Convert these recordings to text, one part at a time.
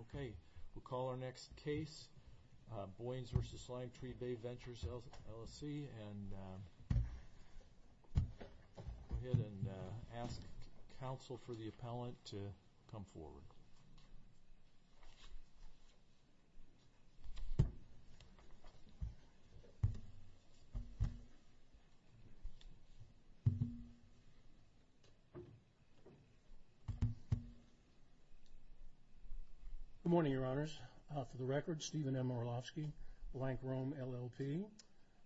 Okay, we'll call our next case, Boynes v. Limetree Bay Ventures, LLC, and go ahead and ask counsel for the appellant to come forward. Good morning, Your Honors. For the record, Stephen M. Orlovsky, Blank Rome, LLP,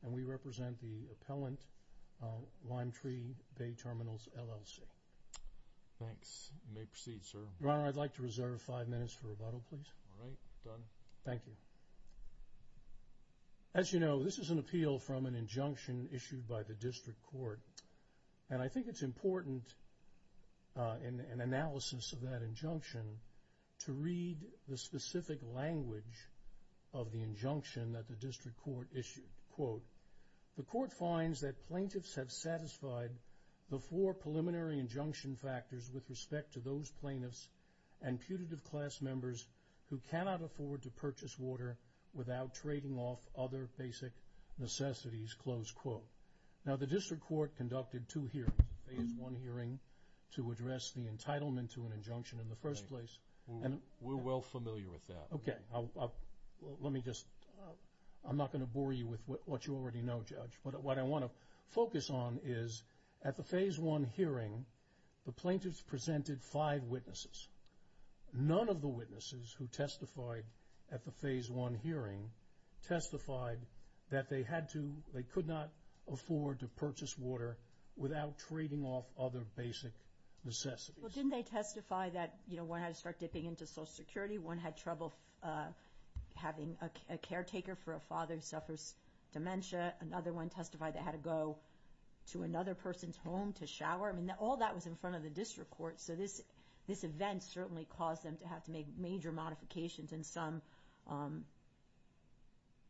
and we represent the appellant, Limetree Bay Terminals, LLC. Thanks. You may proceed, sir. Your Honor, I'd like to reserve five minutes for rebuttal, please. All right. Done. Thank you. As you know, this is an appeal from an injunction issued by the district court. And I think it's important, in analysis of that injunction, to read the specific language of the injunction that the district court issued. Quote, the court finds that plaintiffs have satisfied the four preliminary injunction factors with respect to those plaintiffs and putative class members who cannot afford to purchase water without trading off other basic necessities, close quote. Now, the district court conducted two hearings, a phase one hearing to address the entitlement to an injunction in the first place. We're well familiar with that. Okay. Let me just – I'm not going to bore you with what you already know, Judge. But what I want to focus on is at the phase one hearing, the plaintiffs presented five witnesses. None of the witnesses who testified at the phase one hearing testified that they had to – they could not afford to purchase water without trading off other basic necessities. Well, didn't they testify that, you know, one had to start dipping into Social Security, one had trouble having a caretaker for a father who suffers dementia, another one testified they had to go to another person's home to shower? I mean, all that was in front of the district court. So this event certainly caused them to have to make major modifications and some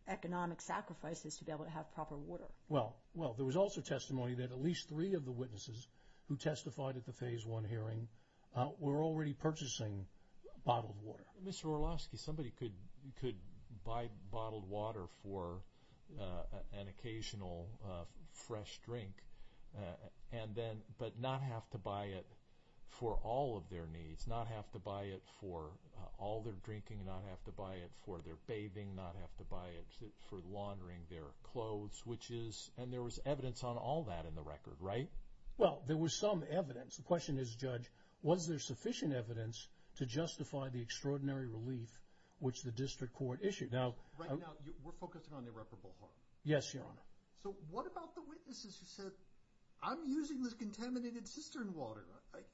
economic sacrifices to be able to have proper water. Well, there was also testimony that at least three of the witnesses who testified at the phase one hearing were already purchasing bottled water. Mr. Orlowski, somebody could buy bottled water for an occasional fresh drink and then – but not have to buy it for all of their needs, not have to buy it for all their drinking, not have to buy it for their bathing, not have to buy it for laundering their clothes, which is – and there was evidence on all that in the record, right? Well, there was some evidence. The question is, Judge, was there sufficient evidence to justify the extraordinary relief which the district court issued? Right now we're focusing on irreparable harm. Yes, Your Honor. So what about the witnesses who said, I'm using this contaminated cistern water.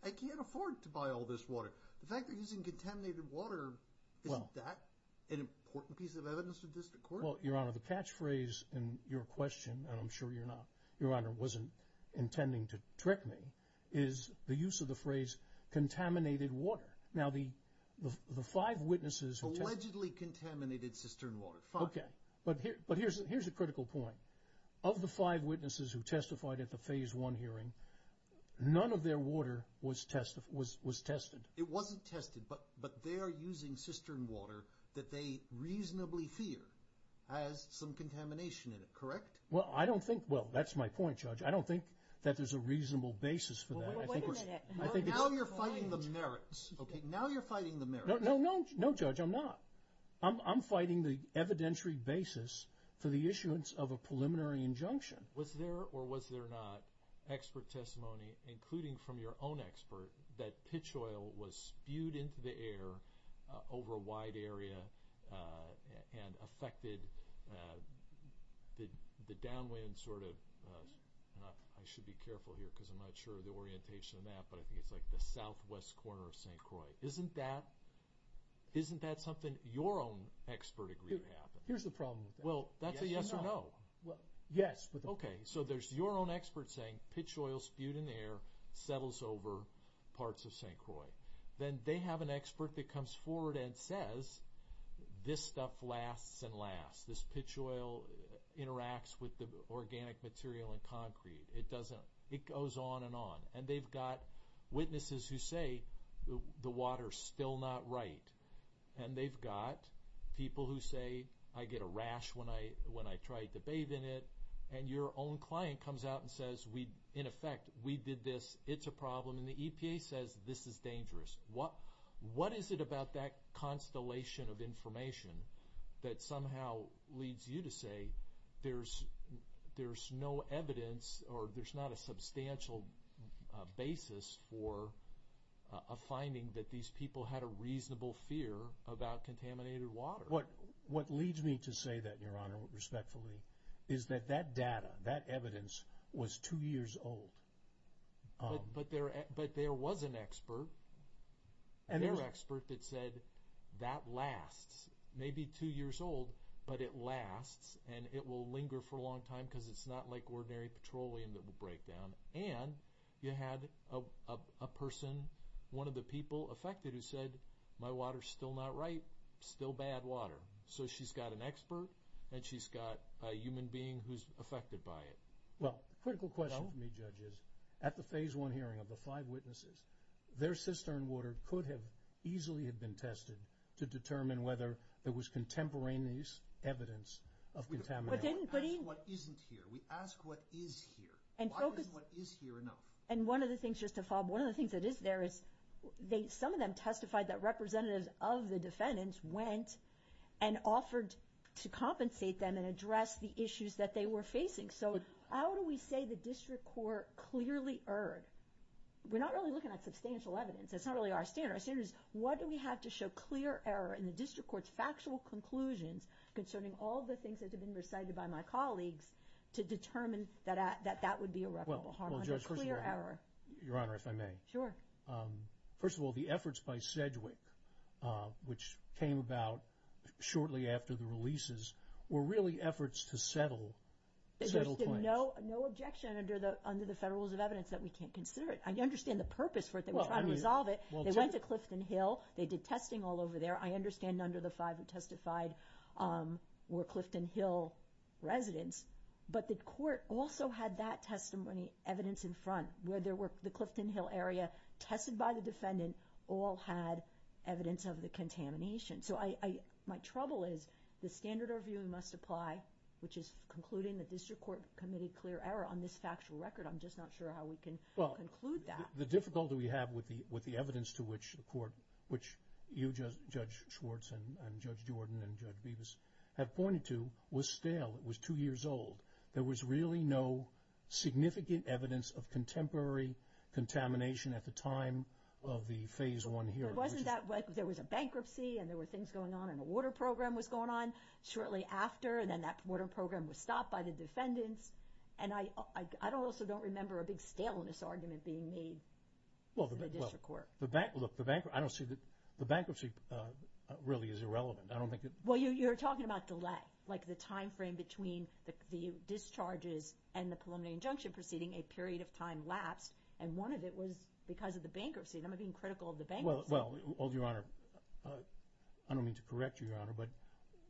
I can't afford to buy all this water. The fact they're using contaminated water, isn't that an important piece of evidence to the district court? Well, Your Honor, the catchphrase in your question, and I'm sure you're not – Your Honor wasn't intending to trick me, is the use of the phrase contaminated water. Now, the five witnesses – Allegedly contaminated cistern water, fine. Okay, but here's a critical point. Of the five witnesses who testified at the phase one hearing, none of their water was tested. It wasn't tested, but they are using cistern water that they reasonably fear has some contamination in it, correct? Well, I don't think – well, that's my point, Judge. I don't think that there's a reasonable basis for that. Well, wait a minute. Now you're fighting the merits, okay? Now you're fighting the merits. No, Judge, I'm not. I'm fighting the evidentiary basis for the issuance of a preliminary injunction. Was there or was there not expert testimony, including from your own expert, that pitch oil was spewed into the air over a wide area and affected the downwind sort of – and I should be careful here because I'm not sure of the orientation of that, but I think it's like the southwest corner of St. Croix. Isn't that – isn't that something your own expert agreed to happen? Here's the problem with that. Well, that's a yes or no. Yes. Okay. So there's your own expert saying pitch oil spewed in the air settles over parts of St. Croix. Then they have an expert that comes forward and says this stuff lasts and lasts. This pitch oil interacts with the organic material and concrete. It doesn't – it goes on and on. And they've got witnesses who say the water's still not right. And they've got people who say I get a rash when I try to bathe in it. And your own client comes out and says, in effect, we did this. It's a problem. What is it about that constellation of information that somehow leads you to say there's no evidence or there's not a substantial basis for a finding that these people had a reasonable fear about contaminated water? What leads me to say that, Your Honor, respectfully, is that that data, that evidence, was two years old. But there was an expert, their expert, that said that lasts. Maybe two years old, but it lasts and it will linger for a long time because it's not like ordinary petroleum that will break down. And you had a person, one of the people affected, who said my water's still not right, still bad water. So she's got an expert and she's got a human being who's affected by it. Well, the critical question for me, Judge, is at the phase one hearing of the five witnesses, their cistern water could have easily have been tested to determine whether there was contemporaneous evidence of contamination. We ask what isn't here. We ask what is here. Why isn't what is here enough? And one of the things, just to follow up, one of the things that is there is some of them testified that representatives of the defendants went and offered to compensate them and address the issues that they were facing. So how do we say the district court clearly erred? We're not really looking at substantial evidence. That's not really our standard. Our standard is what do we have to show clear error in the district court's factual conclusions concerning all the things that have been recited by my colleagues to determine that that would be irreparable harm? Well, Judge, first of all, Your Honor, if I may. Sure. First of all, the efforts by Sedgwick, which came about shortly after the releases, were really efforts to settle claims. There's been no objection under the Federal Rules of Evidence that we can't consider it. I understand the purpose for it. They were trying to resolve it. They went to Clifton Hill. They did testing all over there. I understand none of the five who testified were Clifton Hill residents, but the court also had that testimony evidence in front, where there were the Clifton Hill area tested by the defendant all had evidence of the contamination. So my trouble is the standard of review must apply, which is concluding the district court committed clear error on this factual record. I'm just not sure how we can conclude that. Well, the difficulty we have with the evidence to which the court, which you, Judge Schwartz, and Judge Jordan, and Judge Bevis have pointed to, was stale. It was two years old. There was really no significant evidence of contemporary contamination at the time of the Phase I hearing. There was a bankruptcy, and there were things going on, and a water program was going on shortly after, and then that water program was stopped by the defendants. And I also don't remember a big staleness argument being made in the district court. Look, the bankruptcy really is irrelevant. Well, you're talking about delay, like the time frame between the discharges and the preliminary injunction proceeding, a period of time lapsed, and one of it was because of the bankruptcy. Am I being critical of the bankruptcy? Well, Your Honor, I don't mean to correct you, Your Honor.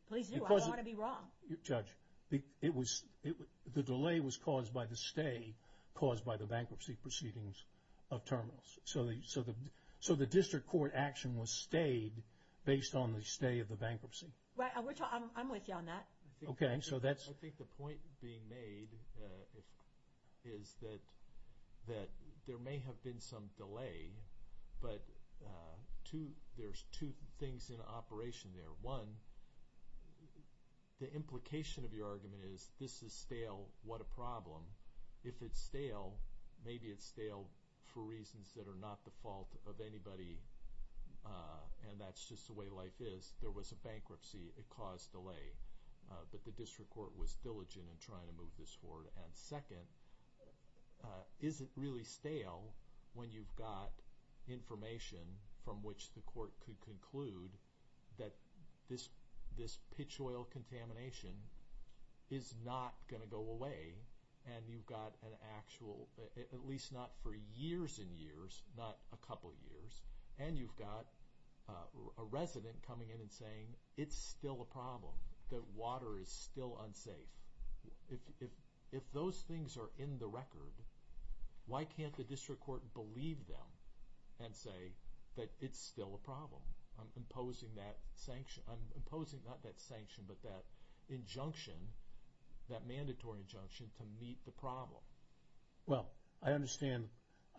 Please do. I don't want to be wrong. Judge, the delay was caused by the stay caused by the bankruptcy proceedings of terminals. So the district court action was stayed based on the stay of the bankruptcy. I'm with you on that. Okay. I think the point being made is that there may have been some delay, but there's two things in operation there. One, the implication of your argument is this is stale. What a problem. If it's stale, maybe it's stale for reasons that are not the fault of anybody, and that's just the way life is. There was a bankruptcy. It caused delay. But the district court was diligent in trying to move this forward. And second, is it really stale when you've got information from which the court could conclude that this pitch oil contamination is not going to go away, and you've got an actual, at least not for years and years, not a couple years, and you've got a resident coming in and saying it's still a problem, that water is still unsafe. If those things are in the record, why can't the district court believe them and say that it's still a problem? I'm imposing that sanction. I'm imposing not that sanction, but that injunction, that mandatory injunction to meet the problem. Well, I understand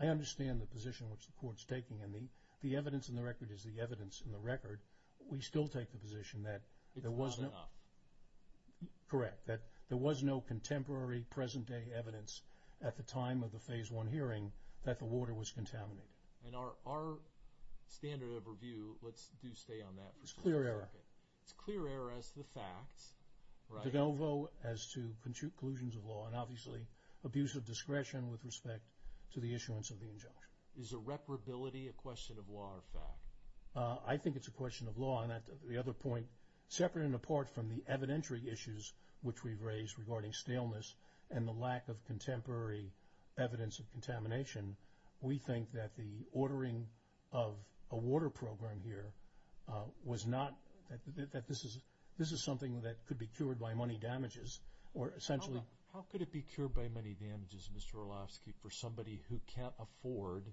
the position which the court's taking, and the evidence in the record is the evidence in the record. We still take the position that there was no— It's not enough. Correct, that there was no contemporary, present-day evidence at the time of the Phase I hearing that the water was contaminated. And our standard of review, let's do stay on that for a second. It's clear error. It's clear error as to the facts, right? Novo as to collusions of law, and obviously abuse of discretion with respect to the issuance of the injunction. Is irreparability a question of law or fact? I think it's a question of law. And the other point, separate and apart from the evidentiary issues which we've raised regarding staleness and the lack of contemporary evidence of contamination, we think that the ordering of a water program here was not— that this is something that could be cured by money damages or essentially— How could it be cured by money damages, Mr. Orlovsky, for somebody who can't afford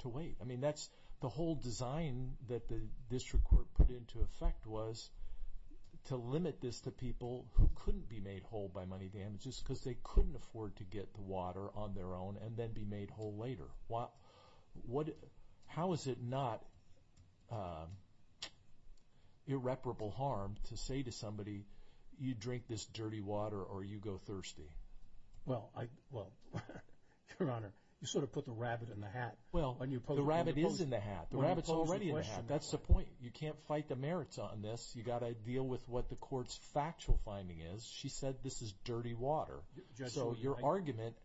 to wait? I mean, that's the whole design that the district court put into effect was to limit this to people who couldn't be made whole by money damages because they couldn't afford to get the water on their own and then be made whole later. How is it not irreparable harm to say to somebody, you drink this dirty water or you go thirsty? Well, Your Honor, you sort of put the rabbit in the hat. Well, the rabbit is in the hat. The rabbit's already in the hat. That's the point. You can't fight the merits on this. You've got to deal with what the court's factual finding is. She said this is dirty water. So your argument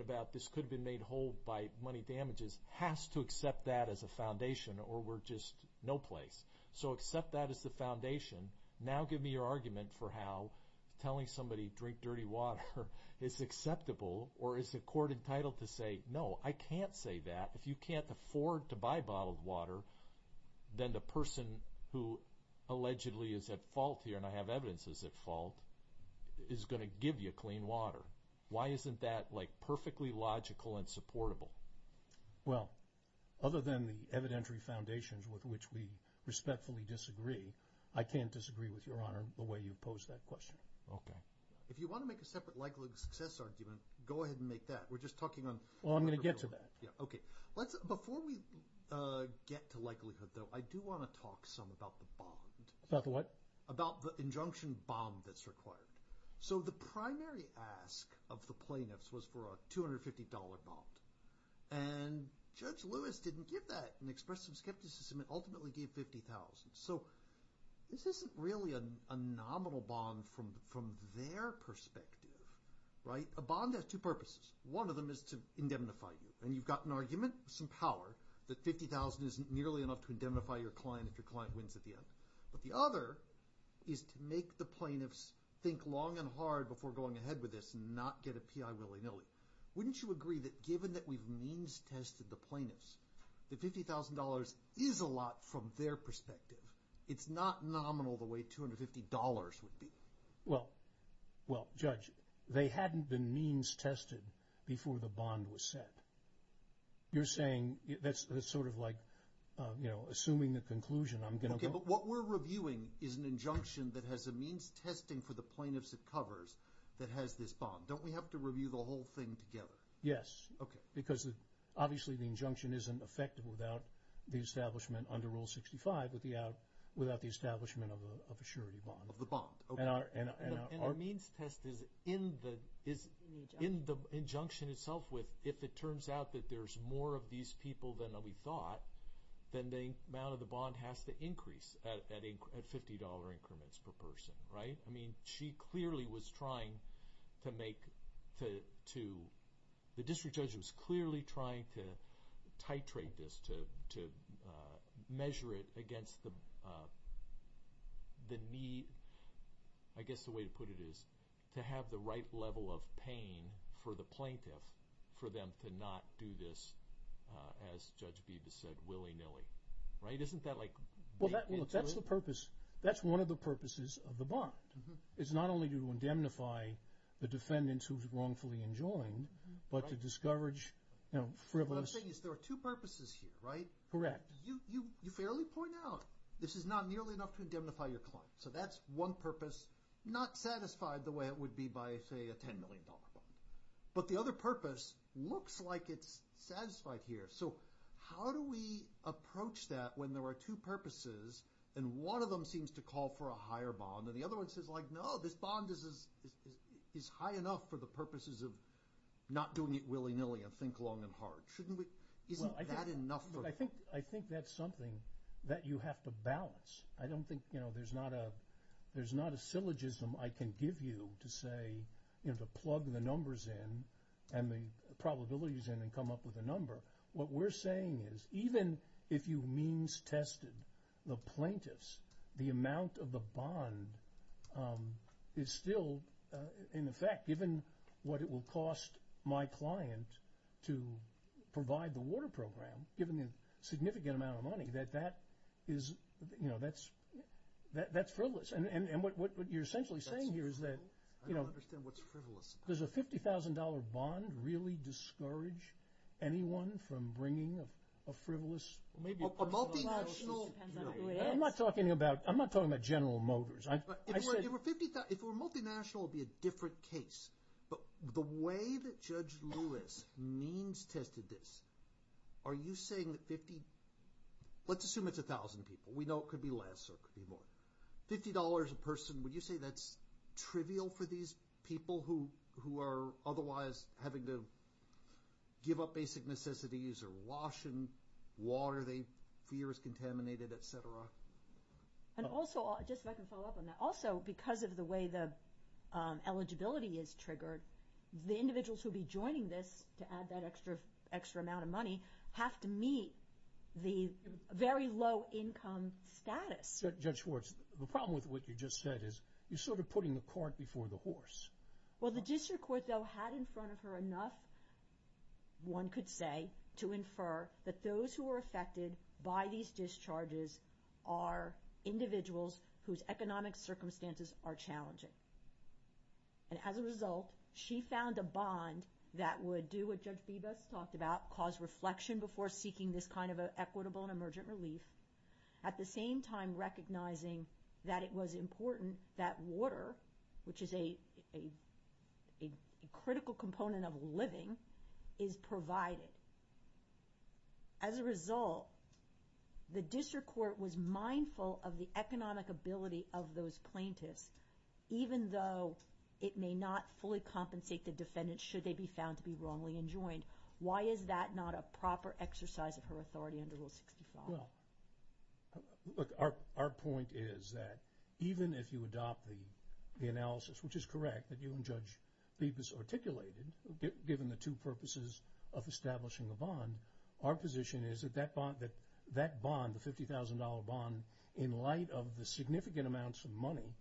about this could have been made whole by money damages has to accept that as a foundation or we're just no place. So accept that as the foundation. Now give me your argument for how telling somebody, drink dirty water, is acceptable or is the court entitled to say, no, I can't say that. If you can't afford to buy bottled water, then the person who allegedly is at fault here, and I have evidence he's at fault, is going to give you clean water. Why isn't that like perfectly logical and supportable? Well, other than the evidentiary foundations with which we respectfully disagree, I can't disagree with Your Honor the way you posed that question. Okay. If you want to make a separate likelihood of success argument, go ahead and make that. We're just talking on the river. Well, I'm going to get to that. Okay. Before we get to likelihood, though, I do want to talk some about the bond. About the what? About the injunction bond that's required. So the primary ask of the plaintiffs was for a $250 bond, and Judge Lewis didn't give that and expressed some skepticism and ultimately gave $50,000. So this isn't really a nominal bond from their perspective, right? A bond has two purposes. One of them is to indemnify you, and you've got an argument, some power, that $50,000 isn't nearly enough to indemnify your client if your client wins at the end. But the other is to make the plaintiffs think long and hard before going ahead with this and not get a P.I. willy-nilly. Wouldn't you agree that given that we've means-tested the plaintiffs, that $50,000 is a lot from their perspective? It's not nominal the way $250 would be. Well, Judge, they hadn't been means-tested before the bond was set. You're saying that's sort of like, you know, assuming the conclusion, I'm going to go. But what we're reviewing is an injunction that has a means-testing for the plaintiffs it covers that has this bond. Don't we have to review the whole thing together? Yes. Okay. Because obviously the injunction isn't effective without the establishment under Rule 65, without the establishment of a surety bond. Of the bond. Okay. And a means-test is in the injunction itself with if it turns out that there's more of these people than we thought, then the amount of the bond has to increase at $50 increments per person, right? I mean, she clearly was trying to make the district judge was clearly trying to titrate this, to measure it against the need, I guess the way to put it is to have the right level of pain for the plaintiff for them to not do this, as Judge Beebe has said, willy-nilly. Right? Isn't that like bait into it? Well, look, that's the purpose. That's one of the purposes of the bond. It's not only to indemnify the defendants who's wrongfully enjoined, but to discourage, you know, frivolous. What I'm saying is there are two purposes here, right? Correct. You fairly point out this is not nearly enough to indemnify your client. So that's one purpose, not satisfied the way it would be by, say, a $10 million bond. But the other purpose looks like it's satisfied here. So how do we approach that when there are two purposes and one of them seems to call for a higher bond and the other one says, like, no, this bond is high enough for the purposes of not doing it willy-nilly and think long and hard. Shouldn't we? Isn't that enough for? I think that's something that you have to balance. I don't think, you know, there's not a syllogism I can give you to say, you know, to plug the numbers in and the probabilities in and come up with a number. What we're saying is even if you means tested the plaintiffs, the amount of the bond is still in effect, given what it will cost my client to provide the water program, given the significant amount of money, that that is, you know, that's frivolous. And what you're essentially saying here is that, you know. I don't understand what's frivolous about it. Does a $50,000 bond really discourage anyone from bringing a frivolous? A multinational. It depends on who it is. I'm not talking about General Motors. If it were a multinational, it would be a different case. But the way that Judge Lewis means tested this, are you saying that 50, let's assume it's 1,000 people. We know it could be less or it could be more. $50 a person, would you say that's trivial for these people who are otherwise having to give up basic necessities or wash in water they fear is contaminated, et cetera? And also, just so I can follow up on that. Also, because of the way the eligibility is triggered, the individuals who will be joining this, to add that extra amount of money, have to meet the very low income status. Judge Schwartz, the problem with what you just said is you're sort of putting the cart before the horse. Well, the district court, though, had in front of her enough, one could say, to infer that those who are affected by these discharges are individuals whose economic circumstances are challenging. And as a result, she found a bond that would do what Judge Bebas talked about, cause reflection before seeking this kind of equitable and emergent relief, at the same time recognizing that it was important that water, which is a critical component of living, is provided. As a result, the district court was mindful of the economic ability of those plaintiffs, even though it may not fully compensate the defendant should they be found to be wrongly enjoined. Why is that not a proper exercise of her authority under Rule 65? Well, look, our point is that even if you adopt the analysis, which is correct, that you and Judge Bebas articulated, given the two purposes of establishing a bond, our position is that that bond, the $50,000 bond, in light of the significant amounts of money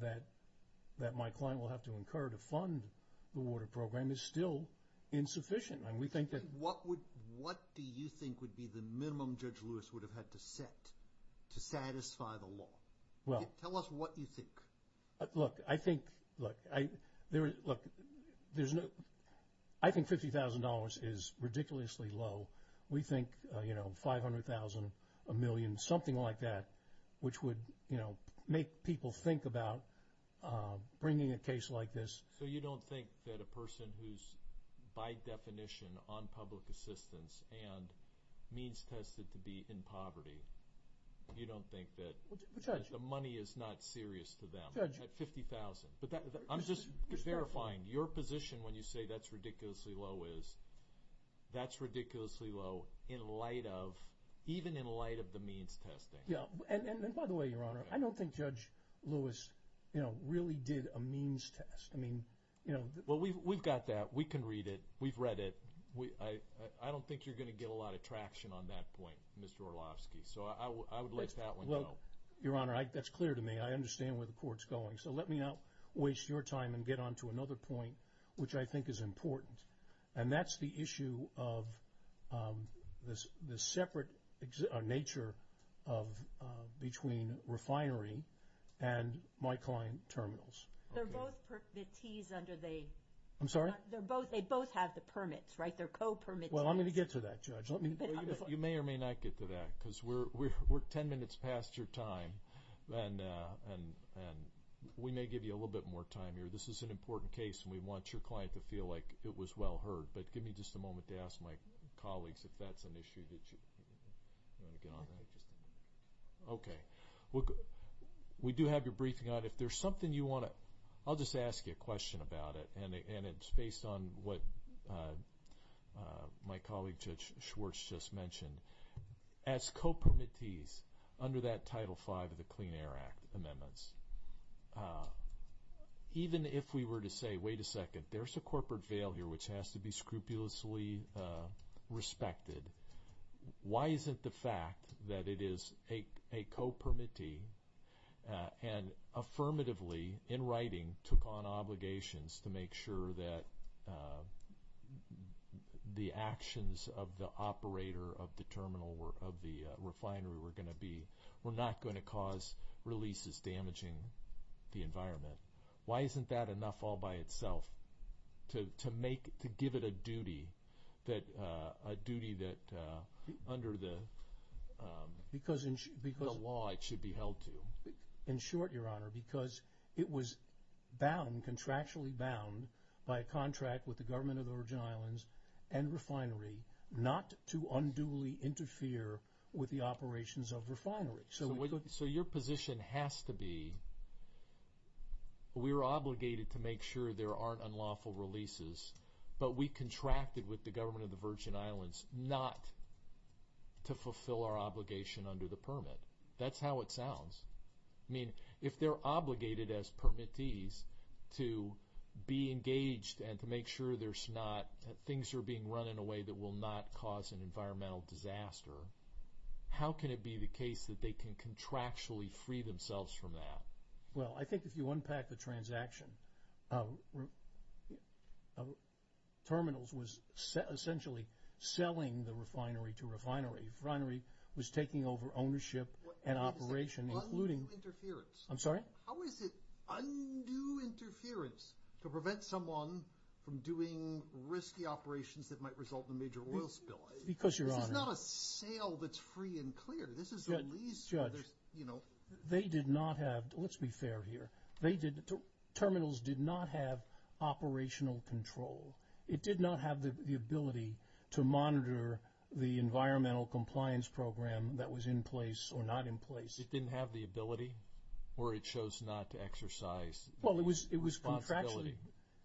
that my client will have to incur to fund the water program is still insufficient. What do you think would be the minimum Judge Lewis would have had to set to satisfy the law? Tell us what you think. Look, I think $50,000 is ridiculously low. We think $500,000, a million, something like that, which would make people think about bringing a case like this. So you don't think that a person who's by definition on public assistance and means-tested to be in poverty, you don't think that the money is not serious to them? $50,000. I'm just verifying, your position when you say that's ridiculously low is that's ridiculously low in light of, even in light of the means-testing. By the way, your Honor, I don't think Judge Lewis really did a means-test. We've got that. We can read it. We've read it. I don't think you're going to get a lot of traction on that point, Mr. Orlovsky. So I would let that one go. Your Honor, that's clear to me. I understand where the Court's going. So let me not waste your time and get on to another point, which I think is important, and that's the issue of the separate nature between refinery and my client terminals. They're both permittees under the— I'm sorry? They both have the permits, right? They're co-permittees. Well, I'm going to get to that, Judge. You may or may not get to that because we're 10 minutes past your time, and we may give you a little bit more time here. This is an important case, and we want your client to feel like it was well heard. But give me just a moment to ask my colleagues if that's an issue that you want to get on. Okay. We do have your briefing on it. If there's something you want to—I'll just ask you a question about it, and it's based on what my colleague Judge Schwartz just mentioned. As co-permittees under that Title V of the Clean Air Act amendments, even if we were to say, wait a second, there's a corporate failure which has to be scrupulously respected, why isn't the fact that it is a co-permittee and affirmatively in writing took on obligations to make sure that the actions of the operator of the terminal, of the refinery were going to be—were not going to cause releases damaging the environment? Why isn't that enough all by itself to give it a duty that under the law it should be held to? In short, Your Honor, because it was bound, contractually bound, by a contract with the Government of the Virgin Islands and refinery not to unduly interfere with the operations of refinery. So your position has to be we're obligated to make sure there aren't unlawful releases, but we contracted with the Government of the Virgin Islands not to fulfill our obligation under the permit. That's how it sounds. I mean, if they're obligated as permittees to be engaged and to make sure there's not— that things are being run in a way that will not cause an environmental disaster, how can it be the case that they can contractually free themselves from that? Well, I think if you unpack the transaction, Terminals was essentially selling the refinery to refinery. Refinery was taking over ownership and operation, including— How is it undue interference? I'm sorry? How is it undue interference to prevent someone from doing risky operations that might result in a major oil spill? Because, Your Honor— This is not a sale that's free and clear. Judge, they did not have—let's be fair here. Terminals did not have operational control. It did not have the ability to monitor the environmental compliance program that was in place or not in place. It didn't have the ability, or it chose not to exercise responsibility? Well,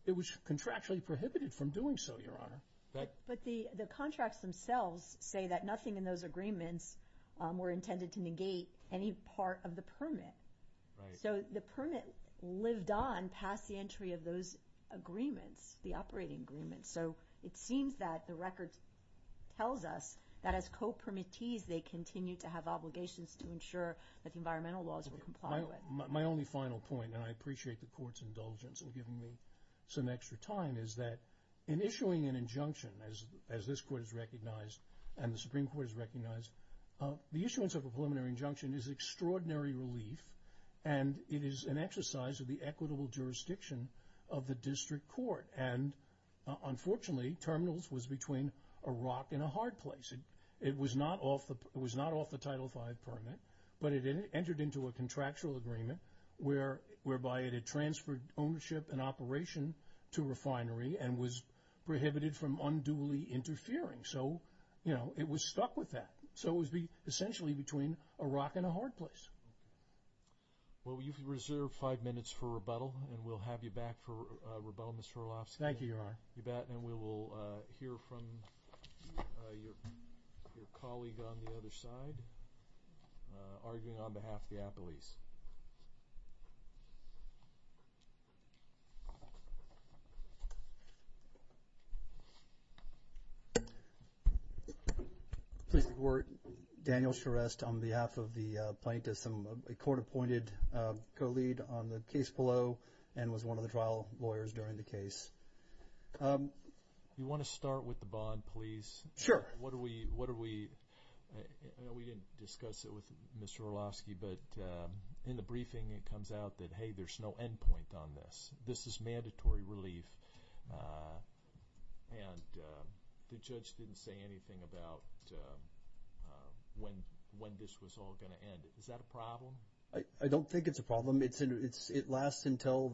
it was contractually prohibited from doing so, Your Honor. But the contracts themselves say that nothing in those agreements were intended to negate any part of the permit. Right. So the permit lived on past the entry of those agreements, the operating agreements. So it seems that the record tells us that as co-permittees, they continue to have obligations to ensure that the environmental laws were complied with. My only final point, and I appreciate the Court's indulgence in giving me some extra time, is that in issuing an injunction, as this Court has recognized and the Supreme Court has recognized, the issuance of a preliminary injunction is extraordinary relief, and it is an exercise of the equitable jurisdiction of the district court. And unfortunately, terminals was between a rock and a hard place. It was not off the Title V permit, but it entered into a contractual agreement whereby it had transferred ownership and operation to refinery and was prohibited from unduly interfering. So, you know, it was stuck with that. So it was essentially between a rock and a hard place. Well, you've reserved five minutes for rebuttal, and we'll have you back for rebuttal, Mr. Hrolowski. Thank you, Your Honor. You bet. And we will hear from your colleague on the other side, arguing on behalf of the appellees. Pleased to report, Daniel Shrest on behalf of the plaintiffs. He's a court-appointed co-lead on the case below and was one of the trial lawyers during the case. You want to start with the bond, please? Sure. What are we – I know we didn't discuss it with Mr. Hrolowski, but in the briefing it comes out that, hey, there's no end point on this. This is mandatory relief. And the judge didn't say anything about when this was all going to end. Is that a problem? I don't think it's a problem. It lasts until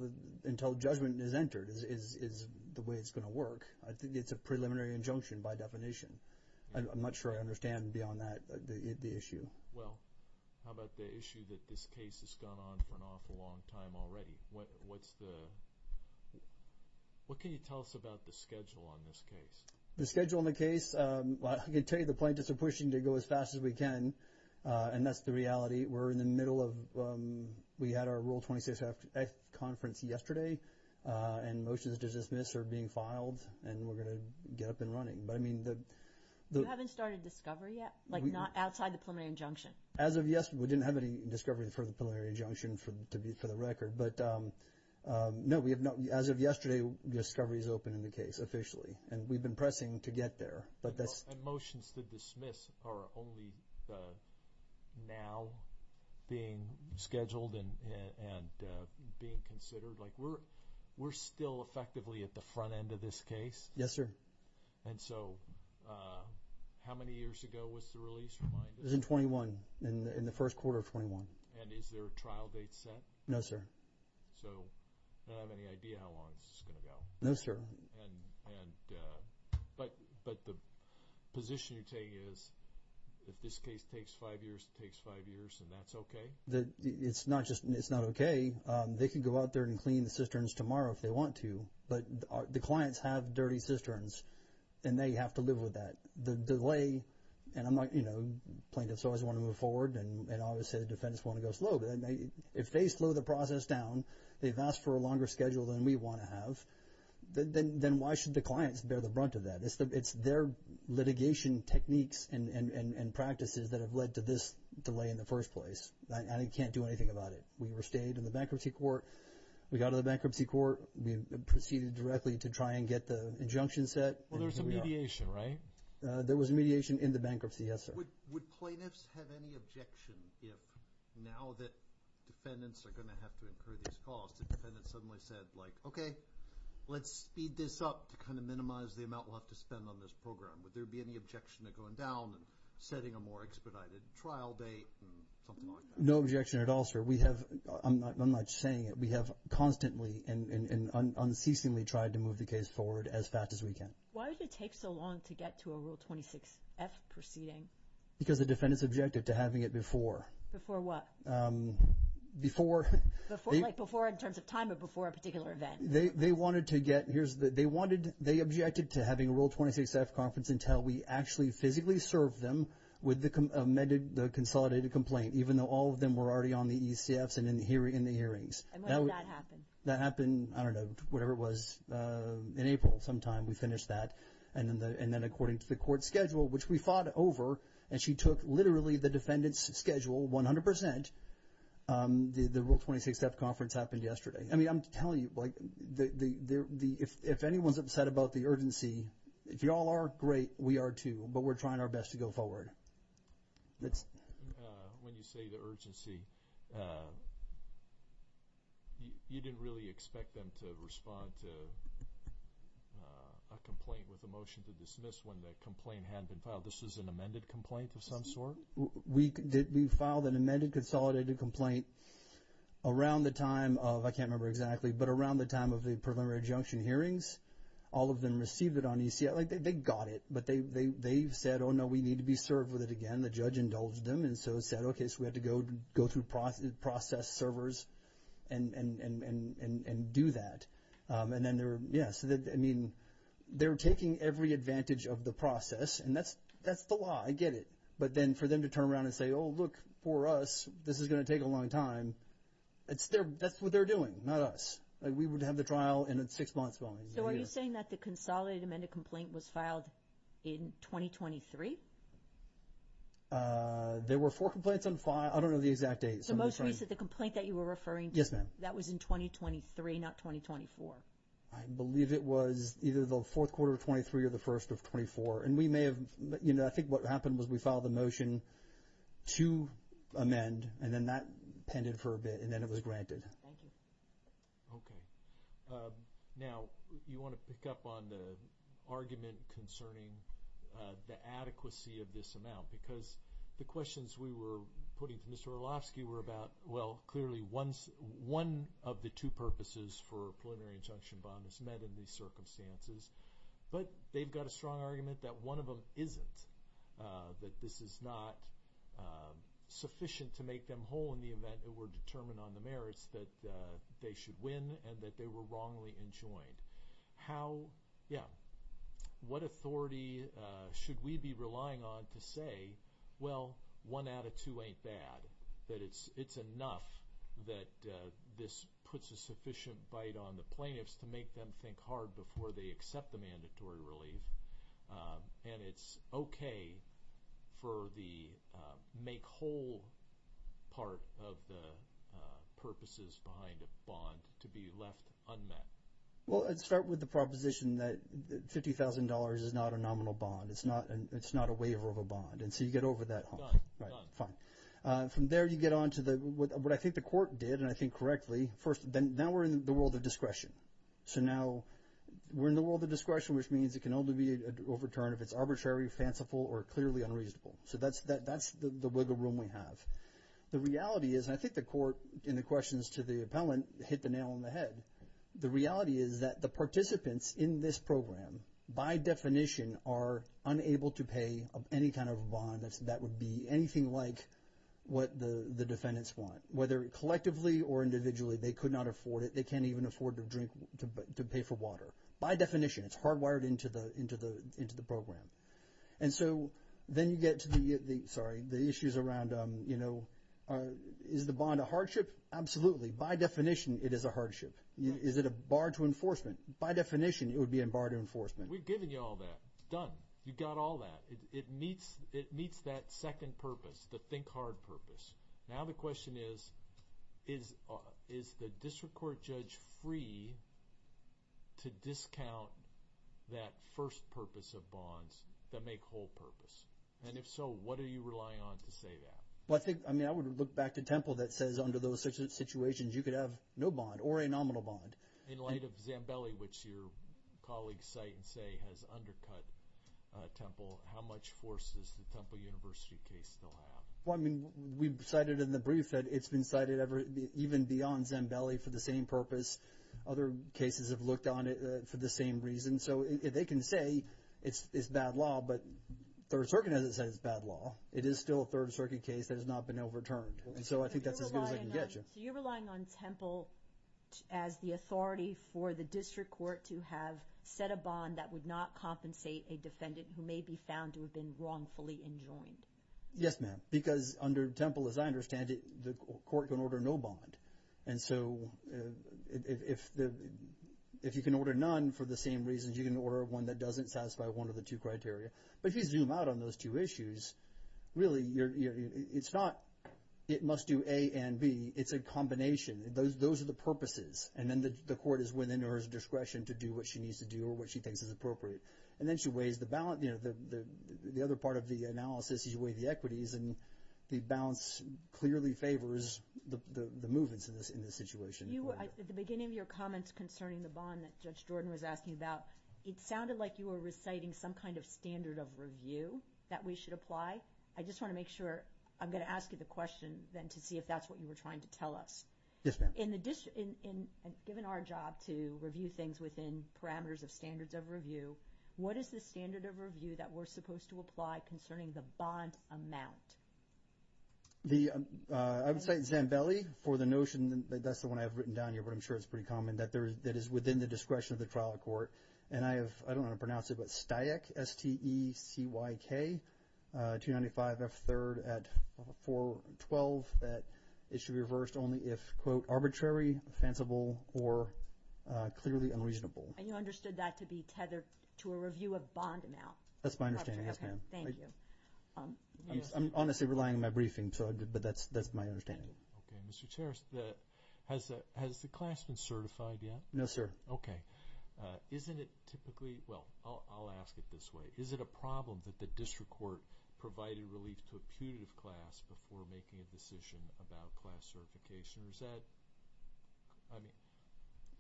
judgment is entered is the way it's going to work. I think it's a preliminary injunction by definition. I'm not sure I understand beyond that the issue. Well, how about the issue that this case has gone on for an awful long time already? What's the – what can you tell us about the schedule on this case? The schedule on the case, I can tell you the plaintiffs are pushing to go as fast as we can, and that's the reality. We're in the middle of – we had our Rule 26-F conference yesterday, and motions to dismiss are being filed, and we're going to get up and running. But, I mean, the – You haven't started discovery yet? Like not outside the preliminary injunction? As of – we didn't have any discovery for the preliminary injunction for the record. But, no, we have not – as of yesterday, discovery is open in the case officially, and we've been pressing to get there. But motions to dismiss are only now being scheduled and being considered. Like we're still effectively at the front end of this case. Yes, sir. And so how many years ago was the release reminded? It was in 21, in the first quarter of 21. And is there a trial date set? No, sir. So I don't have any idea how long this is going to go. No, sir. And – but the position you're taking is if this case takes five years, it takes five years, and that's okay? It's not just – it's not okay. They can go out there and clean the cisterns tomorrow if they want to. But the clients have dirty cisterns, and they have to live with that. The delay – and I'm not – you know, plaintiffs always want to move forward, and obviously the defendants want to go slow. But if they slow the process down, they've asked for a longer schedule than we want to have, then why should the clients bear the brunt of that? It's their litigation techniques and practices that have led to this delay in the first place. I can't do anything about it. We stayed in the bankruptcy court. We got out of the bankruptcy court. We proceeded directly to try and get the injunction set. Well, there was a mediation, right? There was a mediation in the bankruptcy, yes, sir. Would plaintiffs have any objection if, now that defendants are going to have to incur these costs, the defendant suddenly said, like, okay, let's speed this up to kind of minimize the amount we'll have to spend on this program? Would there be any objection to going down and setting a more expedited trial date and something like that? No objection at all, sir. We have – I'm not saying it. We have constantly and unceasingly tried to move the case forward as fast as we can. Why did it take so long to get to a Rule 26F proceeding? Because the defendant's objective to having it before. Before what? Before. Like before in terms of time or before a particular event. They wanted to get – they objected to having a Rule 26F conference until we actually physically served them with the consolidated complaint, even though all of them were already on the ECFs and in the hearings. And when did that happen? That happened, I don't know, whatever it was, in April sometime. We finished that. And then according to the court schedule, which we fought over, and she took literally the defendant's schedule 100%. The Rule 26F conference happened yesterday. I mean, I'm telling you, if anyone's upset about the urgency, if you all are, great. We are too. But we're trying our best to go forward. When you say the urgency, you didn't really expect them to respond to a complaint with a motion to dismiss when the complaint hadn't been filed. This was an amended complaint of some sort? We filed an amended consolidated complaint around the time of – I can't remember exactly, but around the time of the preliminary adjunction hearings. All of them received it on ECF. They got it, but they said, oh, no, we need to be served with it again. The judge indulged them and so said, okay, so we had to go through process servers and do that. And then they were – yes, I mean, they were taking every advantage of the process, and that's the law. I get it. But then for them to turn around and say, oh, look, for us, this is going to take a long time, that's what they're doing, not us. We would have the trial in six months' time. So are you saying that the consolidated amended complaint was filed in 2023? There were four complaints on – I don't know the exact date. So most recent, the complaint that you were referring to, that was in 2023, not 2024? I believe it was either the fourth quarter of 23 or the first of 24. And we may have – I think what happened was we filed the motion to amend, and then that pended for a bit, and then it was granted. Thank you. Okay. Now, you want to pick up on the argument concerning the adequacy of this amount because the questions we were putting to Mr. Orlovsky were about, well, clearly, one of the two purposes for a preliminary injunction bond is met in these circumstances. But they've got a strong argument that one of them isn't, that this is not sufficient to make them whole in the event it were determined on the merits that they should win and that they were wrongly enjoined. How – yeah. What authority should we be relying on to say, well, one out of two ain't bad, that it's enough that this puts a sufficient bite on the plaintiffs to make them think hard before they accept the mandatory relief, and it's okay for the make whole part of the purposes behind a bond to be left unmet? Well, let's start with the proposition that $50,000 is not a nominal bond. It's not a waiver of a bond. And so you get over that hump. Done. Right. Done. Fine. From there, you get on to what I think the Court did, and I think correctly. First, now we're in the world of discretion. So now we're in the world of discretion, which means it can only be overturned if it's arbitrary, fanciful, or clearly unreasonable. So that's the wiggle room we have. The reality is, and I think the Court, in the questions to the appellant, hit the nail on the head. The reality is that the participants in this program, by definition, are unable to pay any kind of a bond that would be anything like what the defendants want, whether collectively or individually. They could not afford it. They can't even afford to pay for water. By definition, it's hardwired into the program. And so then you get to the issues around, you know, is the bond a hardship? Absolutely. By definition, it is a hardship. Is it a bar to enforcement? By definition, it would be a bar to enforcement. We've given you all that. Done. You've got all that. It meets that second purpose, the think hard purpose. Now the question is, is the district court judge free to discount that first purpose of bonds that make whole purpose? And if so, what are you relying on to say that? Well, I think, I mean, I would look back to Temple that says under those situations, you could have no bond or a nominal bond. In light of Zambelli, which your colleagues cite and say has undercut Temple, how much force does the Temple University case still have? Well, I mean, we've cited in the brief that it's been cited even beyond Zambelli for the same purpose. Other cases have looked on it for the same reason. So they can say it's bad law, but Third Circuit doesn't say it's bad law. It is still a Third Circuit case that has not been overturned. And so I think that's as good as I can get you. So you're relying on Temple as the authority for the district court to have set a bond that would not compensate a defendant who may be found to have been wrongfully enjoined? Yes, ma'am, because under Temple, as I understand it, the court can order no bond. And so if you can order none for the same reasons, you can order one that doesn't satisfy one of the two criteria. But if you zoom out on those two issues, really, it's not it must do A and B. It's a combination. Those are the purposes. And then the court is within her discretion to do what she needs to do or what she thinks is appropriate. And then she weighs the balance. The other part of the analysis is you weigh the equities, and the balance clearly favors the movements in this situation. At the beginning of your comments concerning the bond that Judge Jordan was asking about, it sounded like you were reciting some kind of standard of review that we should apply. I just want to make sure I'm going to ask you the question then to see if that's what you were trying to tell us. Yes, ma'am. Given our job to review things within parameters of standards of review, what is the standard of review that we're supposed to apply concerning the bond amount? I would say Zambelli for the notion that that's the one I have written down here, but I'm sure it's pretty common, that is within the discretion of the trial court. And I don't know how to pronounce it, but Steyck, S-T-E-C-Y-K, 295F3 at 412, that it should be reversed only if, quote, arbitrary, offensible, or clearly unreasonable. And you understood that to be tethered to a review of bond amount? That's my understanding, yes, ma'am. Thank you. I'm honestly relying on my briefing, but that's my understanding. Okay. Mr. Chair, has the class been certified yet? No, sir. Okay. Isn't it typically – well, I'll ask it this way. Is it a problem that the district court provided relief to a putative class before making a decision about class certification? Or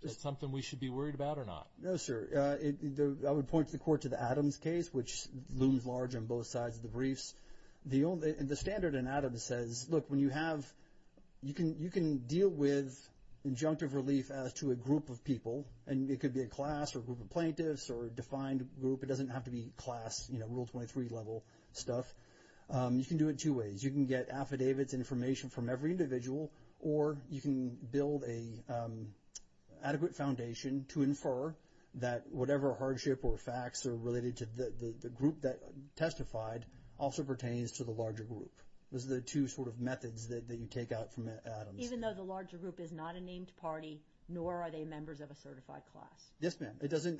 is that something we should be worried about or not? No, sir. I would point the court to the Adams case, which looms large on both sides of the briefs. The standard in Adams says, look, when you have – you can deal with injunctive relief as to a group of people, and it could be a class or a group of plaintiffs or a defined group. It doesn't have to be class, you know, Rule 23-level stuff. You can do it two ways. You can get affidavits and information from every individual, or you can build an adequate foundation to infer that whatever hardship or facts are related to the group that testified also pertains to the larger group. Those are the two sort of methods that you take out from Adams. Even though the larger group is not a named party, nor are they members of a certified class? Yes, ma'am. It doesn't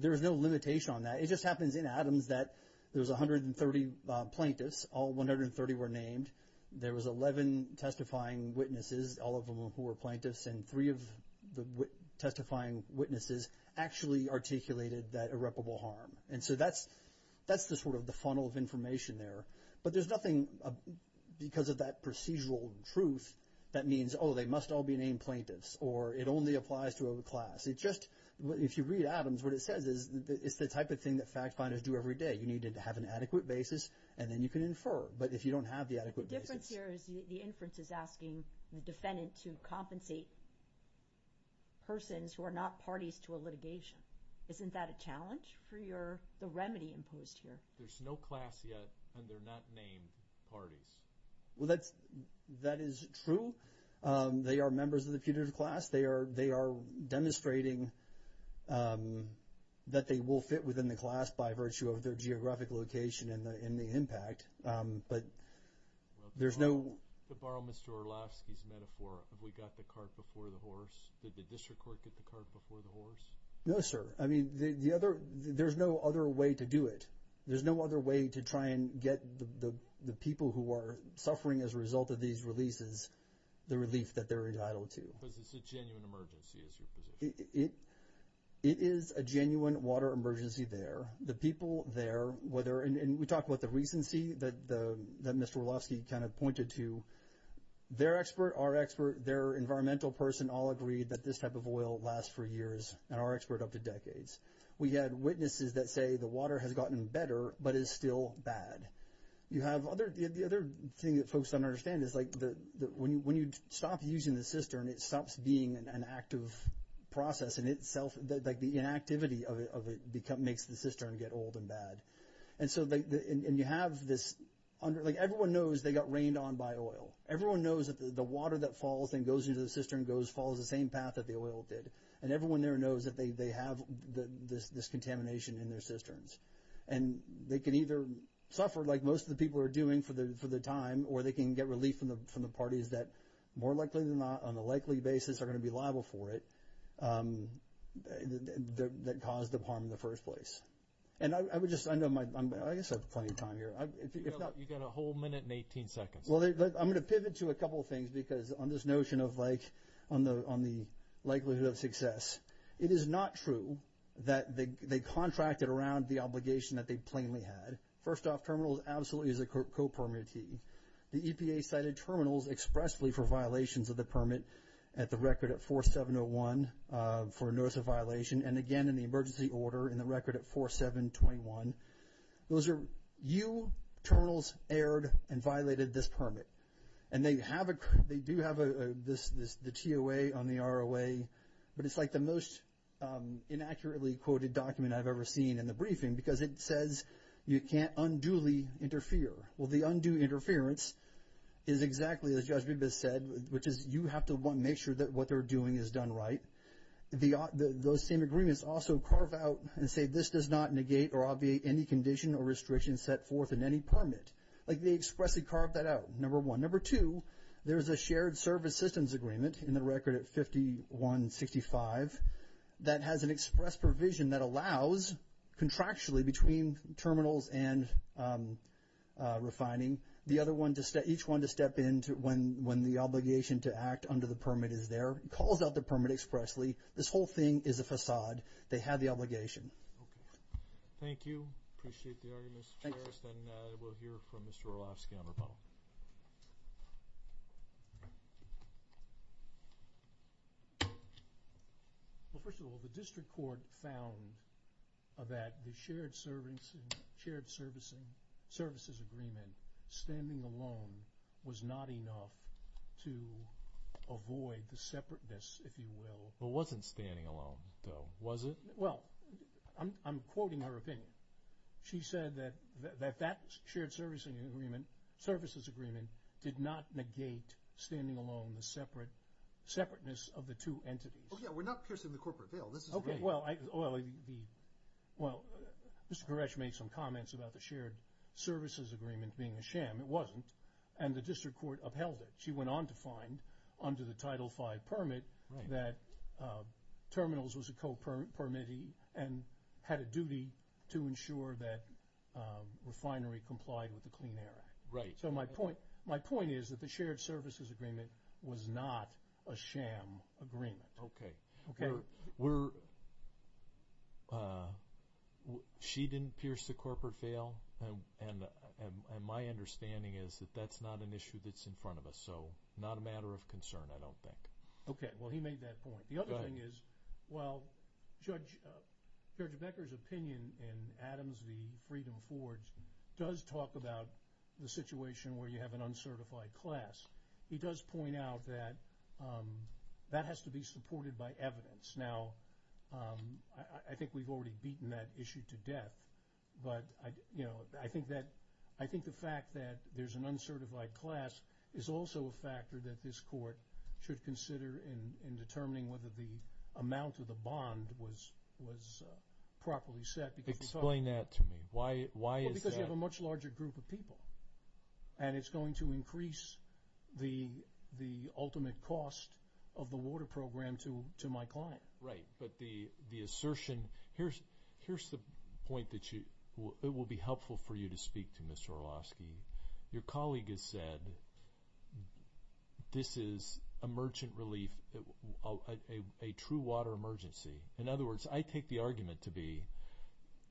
– there is no limitation on that. It just happens in Adams that there was 130 plaintiffs. All 130 were named. There was 11 testifying witnesses, all of them who were plaintiffs, and three of the testifying witnesses actually articulated that irreparable harm. And so that's the sort of the funnel of information there. But there's nothing because of that procedural truth that means, oh, they must all be named plaintiffs, or it only applies to a class. It just – if you read Adams, what it says is it's the type of thing that fact finders do every day. You need to have an adequate basis, and then you can infer. But if you don't have the adequate basis. The difference here is the inference is asking the defendant to compensate persons who are not parties to a litigation. Isn't that a challenge for your – the remedy imposed here? There's no class yet, and they're not named parties. Well, that is true. They are members of the putative class. They are demonstrating that they will fit within the class by virtue of their geographic location and the impact, but there's no – To borrow Mr. Orlovsky's metaphor, have we got the cart before the horse? Did the district court get the cart before the horse? No, sir. I mean, the other – there's no other way to do it. There's no other way to try and get the people who are suffering as a result of these releases the relief that they're entitled to. Because it's a genuine emergency is your position. It is a genuine water emergency there. The people there, whether – and we talked about the recency that Mr. Orlovsky kind of pointed to. Their expert, our expert, their environmental person all agreed that this type of oil lasts for years, and our expert, up to decades. We had witnesses that say the water has gotten better but is still bad. You have other – the other thing that folks don't understand is, like, when you stop using the cistern, it stops being an active process in itself. Like, the inactivity of it makes the cistern get old and bad. And so – and you have this – like, everyone knows they got rained on by oil. Everyone knows that the water that falls and goes into the cistern follows the same path that the oil did, and everyone there knows that they have this contamination in their cisterns. And they can either suffer like most of the people are doing for the time or they can get relief from the parties that more likely than not, on a likely basis, are going to be liable for it that caused the harm in the first place. And I would just – I know my – I guess I have plenty of time here. You've got a whole minute and 18 seconds. Well, I'm going to pivot to a couple of things because on this notion of, like, on the likelihood of success, it is not true that they contracted around the obligation that they plainly had. First off, terminals absolutely is a co-permittee. The EPA cited terminals expressly for violations of the permit at the record at 4701 for notice of violation, and again in the emergency order in the record at 4721. Those are – you, terminals, erred and violated this permit. And they have a – they do have the TOA on the ROA, but it's like the most inaccurately quoted document I've ever seen in the briefing because it says you can't unduly interfere. Well, the undue interference is exactly, as Judge Bibas said, which is you have to, one, make sure that what they're doing is done right. Those same agreements also carve out and say this does not negate or obviate any condition or restriction set forth in any permit. Like, they expressly carve that out, number one. Number two, there's a shared service systems agreement in the record at 5165 that has an express provision that allows contractually between terminals and refining. The other one, each one to step in when the obligation to act under the permit is there. It calls out the permit expressly. This whole thing is a facade. They have the obligation. Okay. Thank you. Appreciate the arguments. We'll hear from Mr. Orlofsky on rebuttal. Well, first of all, the district court found that the shared services agreement, standing alone, was not enough to avoid the separateness, if you will. It wasn't standing alone, though, was it? Well, I'm quoting her opinion. She said that that shared services agreement did not negate standing alone the separateness of the two entities. Oh, yeah. We're not piercing the corporate veil. Okay. Well, Mr. Koresh made some comments about the shared services agreement being a sham. It wasn't, and the district court upheld it. She went on to find under the Title V permit that terminals was a co-permittee and had a duty to ensure that refinery complied with the Clean Air Act. Right. So my point is that the shared services agreement was not a sham agreement. Okay. She didn't pierce the corporate veil, and my understanding is that that's not an issue that's in front of us, so not a matter of concern, I don't think. Okay. Well, he made that point. Go ahead. My understanding is, while Judge Becker's opinion in Adams v. Freedom Forge does talk about the situation where you have an uncertified class, he does point out that that has to be supported by evidence. Now, I think we've already beaten that issue to death, but I think the fact that there's an uncertified class is also a factor that this court should consider in determining whether the amount of the bond was properly set. Explain that to me. Why is that? Well, because you have a much larger group of people, and it's going to increase the ultimate cost of the water program to my client. Right. But the assertion, here's the point that it will be helpful for you to speak to, Mr. Orlovsky. Your colleague has said this is a merchant relief, a true water emergency. In other words, I take the argument to be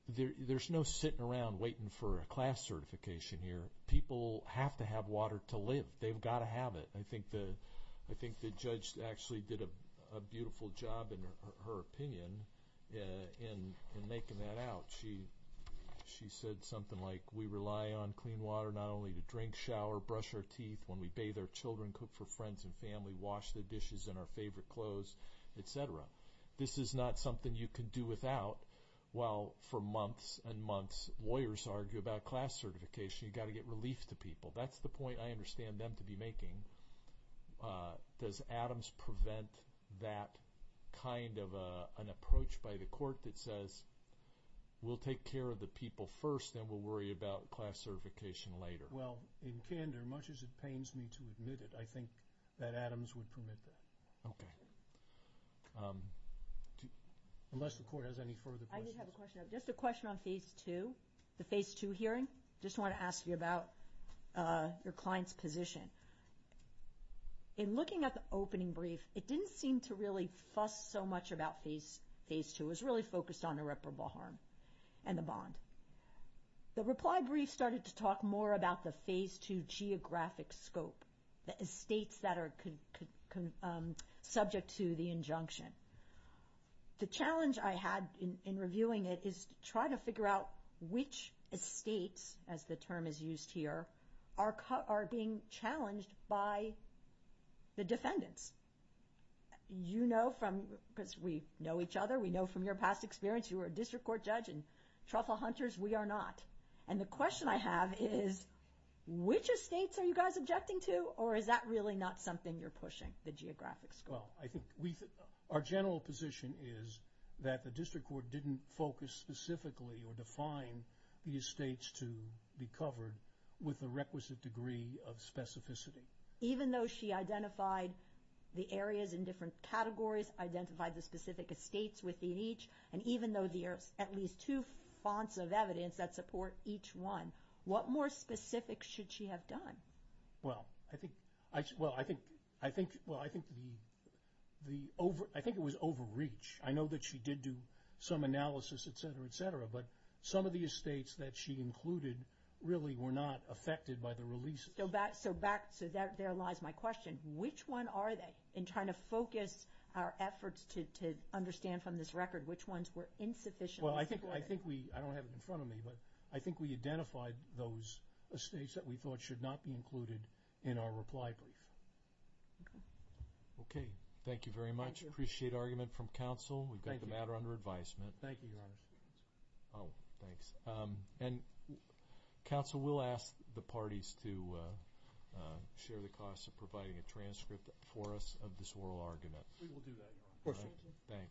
there's no sitting around waiting for a class certification here. People have to have water to live. They've got to have it. I think the judge actually did a beautiful job in her opinion in making that out. She said something like we rely on clean water not only to drink, shower, brush our teeth, when we bathe our children, cook for friends and family, wash the dishes in our favorite clothes, et cetera. This is not something you can do without. While for months and months lawyers argue about class certification, you've got to get relief to people. That's the point I understand them to be making. Does Adams prevent that kind of an approach by the court that says we'll take care of the people first and we'll worry about class certification later? Well, in candor, much as it pains me to admit it, I think that Adams would permit that. Okay. Unless the court has any further questions. I did have a question. Just a question on Phase 2, the Phase 2 hearing. I just want to ask you about your client's position. In looking at the opening brief, it didn't seem to really fuss so much about Phase 2. It was really focused on irreparable harm and the bond. The reply brief started to talk more about the Phase 2 geographic scope, the estates that are subject to the injunction. The challenge I had in reviewing it is to try to figure out which estates, as the term is used here, are being challenged by the defendants. You know from, because we know each other, we know from your past experience, you were a district court judge in Truffle Hunters. We are not. And the question I have is which estates are you guys objecting to or is that really not something you're pushing, the geographic scope? Well, I think our general position is that the district court didn't focus specifically or define the estates to be covered with the requisite degree of specificity. Even though she identified the areas in different categories, identified the specific estates within each, and even though there are at least two fonts of evidence that support each one, what more specifics should she have done? Well, I think the over, I think it was overreach. I know that she did do some analysis, et cetera, et cetera, but some of the estates that she included really were not affected by the releases. So back, so there lies my question. Which one are they? In trying to focus our efforts to understand from this record, which ones were insufficiently supported? Well, I think we, I don't have it in front of me, but I think we identified those estates that we thought should not be included in our reply brief. Okay. Okay, thank you very much. Thank you. Appreciate argument from counsel. We've got the matter under advisement. Thank you, Your Honor. Oh, thanks. And counsel will ask the parties to share the costs of providing a transcript for us of this oral argument. We will do that, Your Honor. Of course, Your Honor. Thanks.